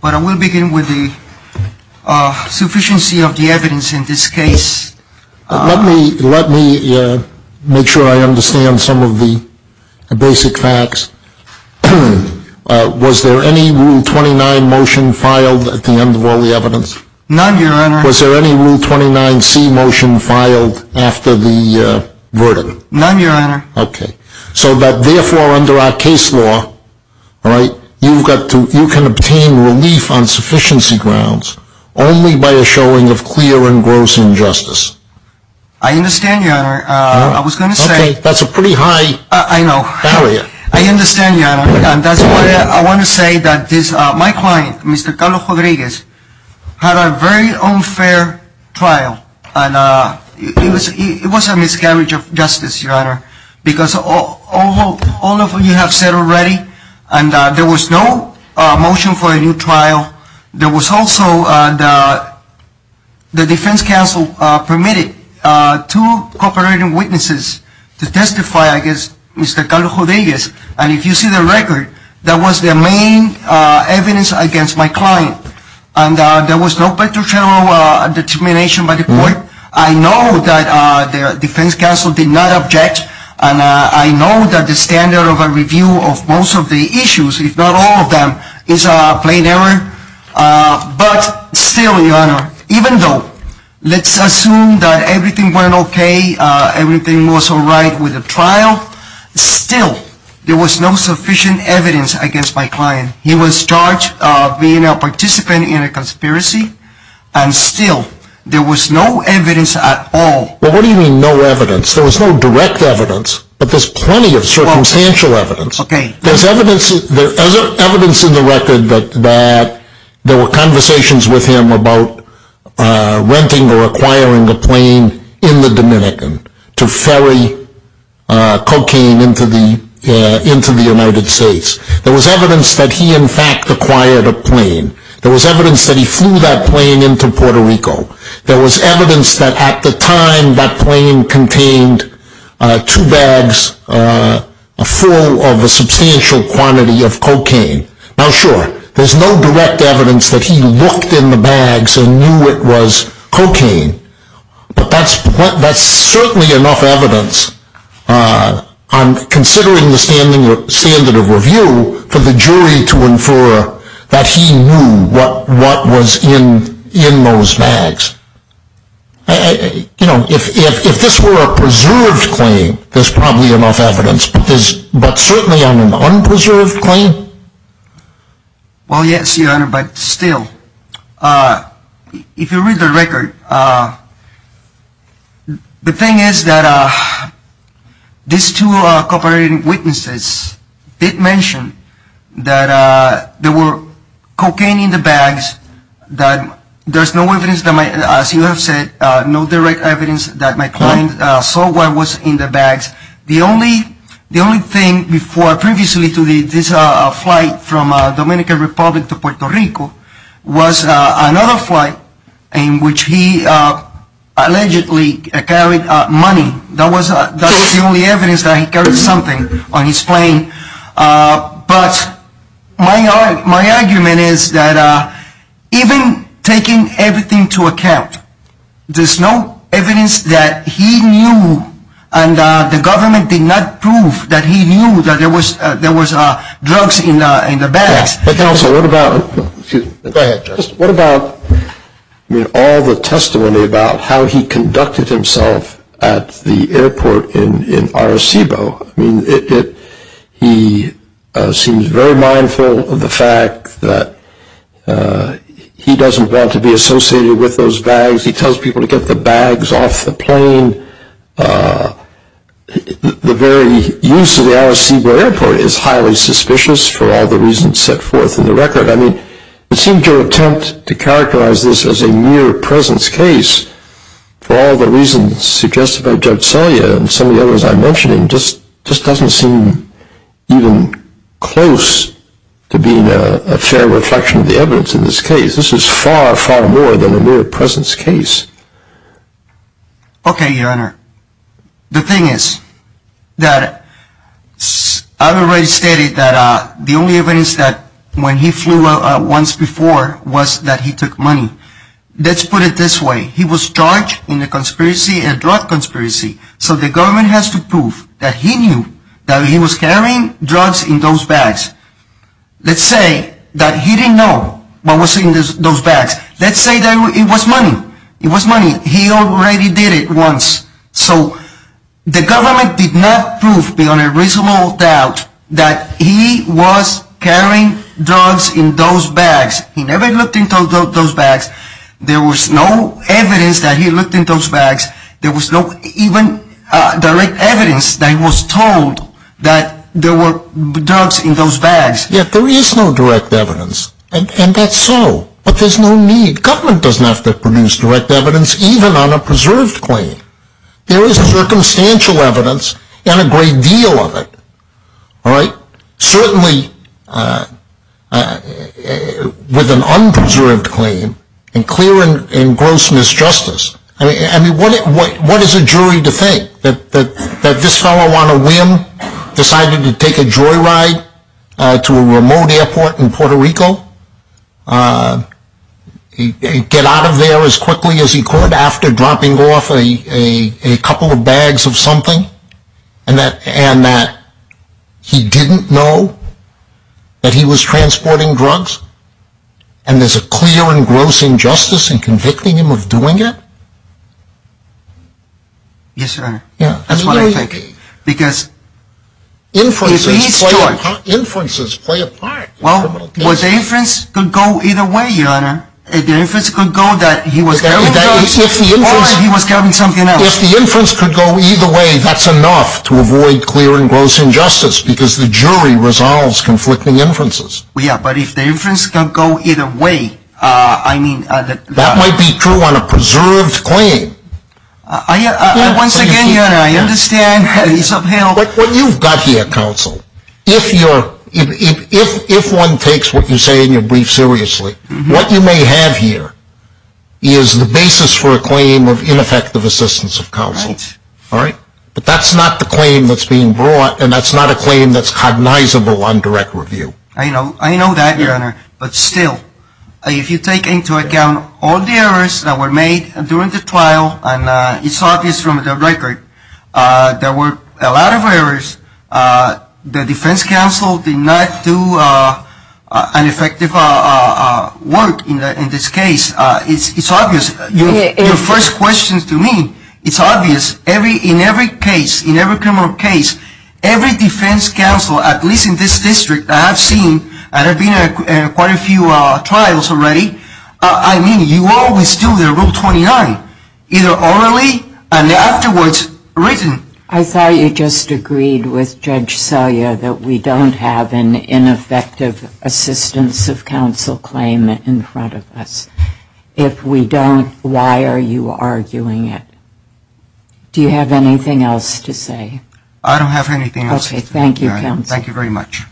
But I will begin with the sufficiency of the evidence in this case. Let me make sure I understand some of the basic facts. Was there any Rule 29 motion filed at the end of all the evidence? None, Your Honor. Was there any Rule 29C motion filed after the verdict? None, Your Honor. Okay. So that therefore under our case law, you can obtain relief on sufficiency grounds only by a showing of clear and gross injustice. I understand, Your Honor. I was going to say... Okay. That's a pretty high barrier. I understand, Your Honor. And that's why I want to say that my client, Mr. Carlos Rodriguez, had a very unfair trial. And it was a miscarriage of justice, Your Honor. Because all of you have said already, and there was no motion for a new trial. There was also the defense counsel permitted two cooperating witnesses to testify against Mr. Carlos Rodriguez. And if you see the record, that was the main evidence against my client. And there was no petrochemical determination by the court. I know that the defense counsel did not object. And I know that the standard of a review of most of the issues, if not all of them, is a plain error. But still, Your Honor, even though let's assume that everything went okay, everything was all right with the trial, still there was no sufficient evidence against my client. He was charged of being a participant in a conspiracy, and still there was no evidence at all. Well, what do you mean no evidence? There was no direct evidence, but there's plenty of circumstantial evidence. Okay. There's evidence in the record that there were conversations with him about renting or acquiring a plane in the Dominican to ferry cocaine into the United States. There was evidence that he, in fact, acquired a plane. There was evidence that he flew that plane into Puerto Rico. There was evidence that at the time that plane contained two bags full of a substantial quantity of cocaine. Now, sure, there's no direct evidence that he looked in the bags and knew it was cocaine. But that's certainly enough evidence, considering the standard of review, for the jury to infer that he knew what was in those bags. You know, if this were a preserved claim, there's probably enough evidence. But certainly on an unpreserved claim? Well, yes, Your Honor, but still, if you read the record, the thing is that these two cooperating witnesses did mention that there were cocaine in the bags, that there's no evidence, as you have said, no direct evidence that my client saw what was in the bags. The only thing previously to this flight from Dominican Republic to Puerto Rico was another flight in which he allegedly carried money. That was the only evidence that he carried something on his plane. But my argument is that even taking everything into account, there's no evidence that he knew, and the government did not prove that he knew that there was drugs in the bags. Counsel, what about all the testimony about how he conducted himself at the airport in Arecibo? I mean, he seems very mindful of the fact that he doesn't want to be associated with those bags. He tells people to get the bags off the plane. The very use of the Arecibo Airport is highly suspicious for all the reasons set forth in the record. I mean, it seems your attempt to characterize this as a mere presence case, for all the reasons suggested by Judge Selya and some of the others I mentioned, just doesn't seem even close to being a fair reflection of the evidence in this case. This is far, far more than a mere presence case. Okay, Your Honor. The thing is that I've already stated that the only evidence that when he flew once before was that he took money. Let's put it this way. He was charged in a drug conspiracy, so the government has to prove that he knew that he was carrying drugs in those bags. Let's say that he didn't know what was in those bags. Let's say that it was money. It was money. He already did it once. So the government did not prove beyond a reasonable doubt that he was carrying drugs in those bags. He never looked into those bags. There was no evidence that he looked into those bags. There was no even direct evidence that he was told that there were drugs in those bags. Yes, there is no direct evidence, and that's so, but there's no need. Government doesn't have to produce direct evidence even on a preserved claim. There is circumstantial evidence and a great deal of it. Certainly with an unpreserved claim and clear and gross misjustice, what is a jury to think? That this fellow on a whim decided to take a joyride to a remote airport in Puerto Rico, get out of there as quickly as he could after dropping off a couple of bags of something, and that he didn't know that he was transporting drugs, and there's a clear and gross injustice in convicting him of doing it? Yes, Your Honor. That's what I'm thinking. Because inferences play a part. Well, the inference could go either way, Your Honor. The inference could go that he was carrying drugs or that he was carrying something else. If the inference could go either way, that's enough to avoid clear and gross injustice because the jury resolves conflicting inferences. Yes, but if the inference can go either way, I mean... That might be true on a preserved claim. Once again, Your Honor, I understand that he's upheld... What you've got here, counsel, if one takes what you say in your brief seriously, what you may have here is the basis for a claim of ineffective assistance of counsel. But that's not the claim that's being brought, and that's not a claim that's cognizable on direct review. I know that, Your Honor. But still, if you take into account all the errors that were made during the trial, and it's obvious from the record, there were a lot of errors. The defense counsel did not do an effective work in this case. It's obvious. Your first question to me, it's obvious. In every case, in every criminal case, every defense counsel, at least in this district, I have seen, and there have been quite a few trials already, I mean, you always do the Rule 29, either orally and afterwards written. I thought you just agreed with Judge Selya that we don't have an ineffective assistance of counsel claim in front of us. If we don't, why are you arguing it? Do you have anything else to say? I don't have anything else. Okay. Thank you, counsel. Thank you very much.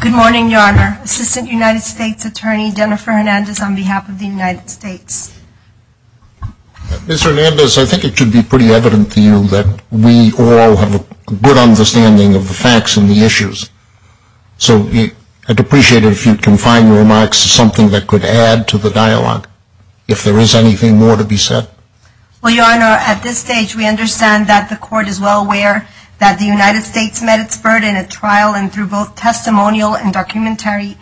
Good morning, Your Honor. Assistant United States Attorney Jennifer Hernandez on behalf of the United States. Ms. Hernandez, I think it should be pretty evident to you that we all have a good understanding of the facts and the issues. So I'd appreciate it if you can find your remarks as something that could add to the dialogue if there is anything more to be said. Well, Your Honor, at this stage, we understand that the court is well aware that the United States met its burden at trial, and through both testimonial and documentary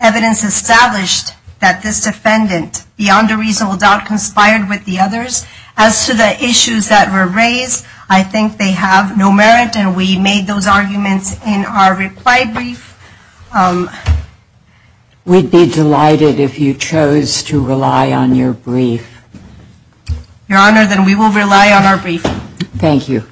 evidence established that this defendant beyond a reasonable doubt conspired with the others. As to the issues that were raised, I think they have no merit, and we made those arguments in our reply brief. We'd be delighted if you chose to rely on your brief. Your Honor, then we will rely on our brief. Thank you.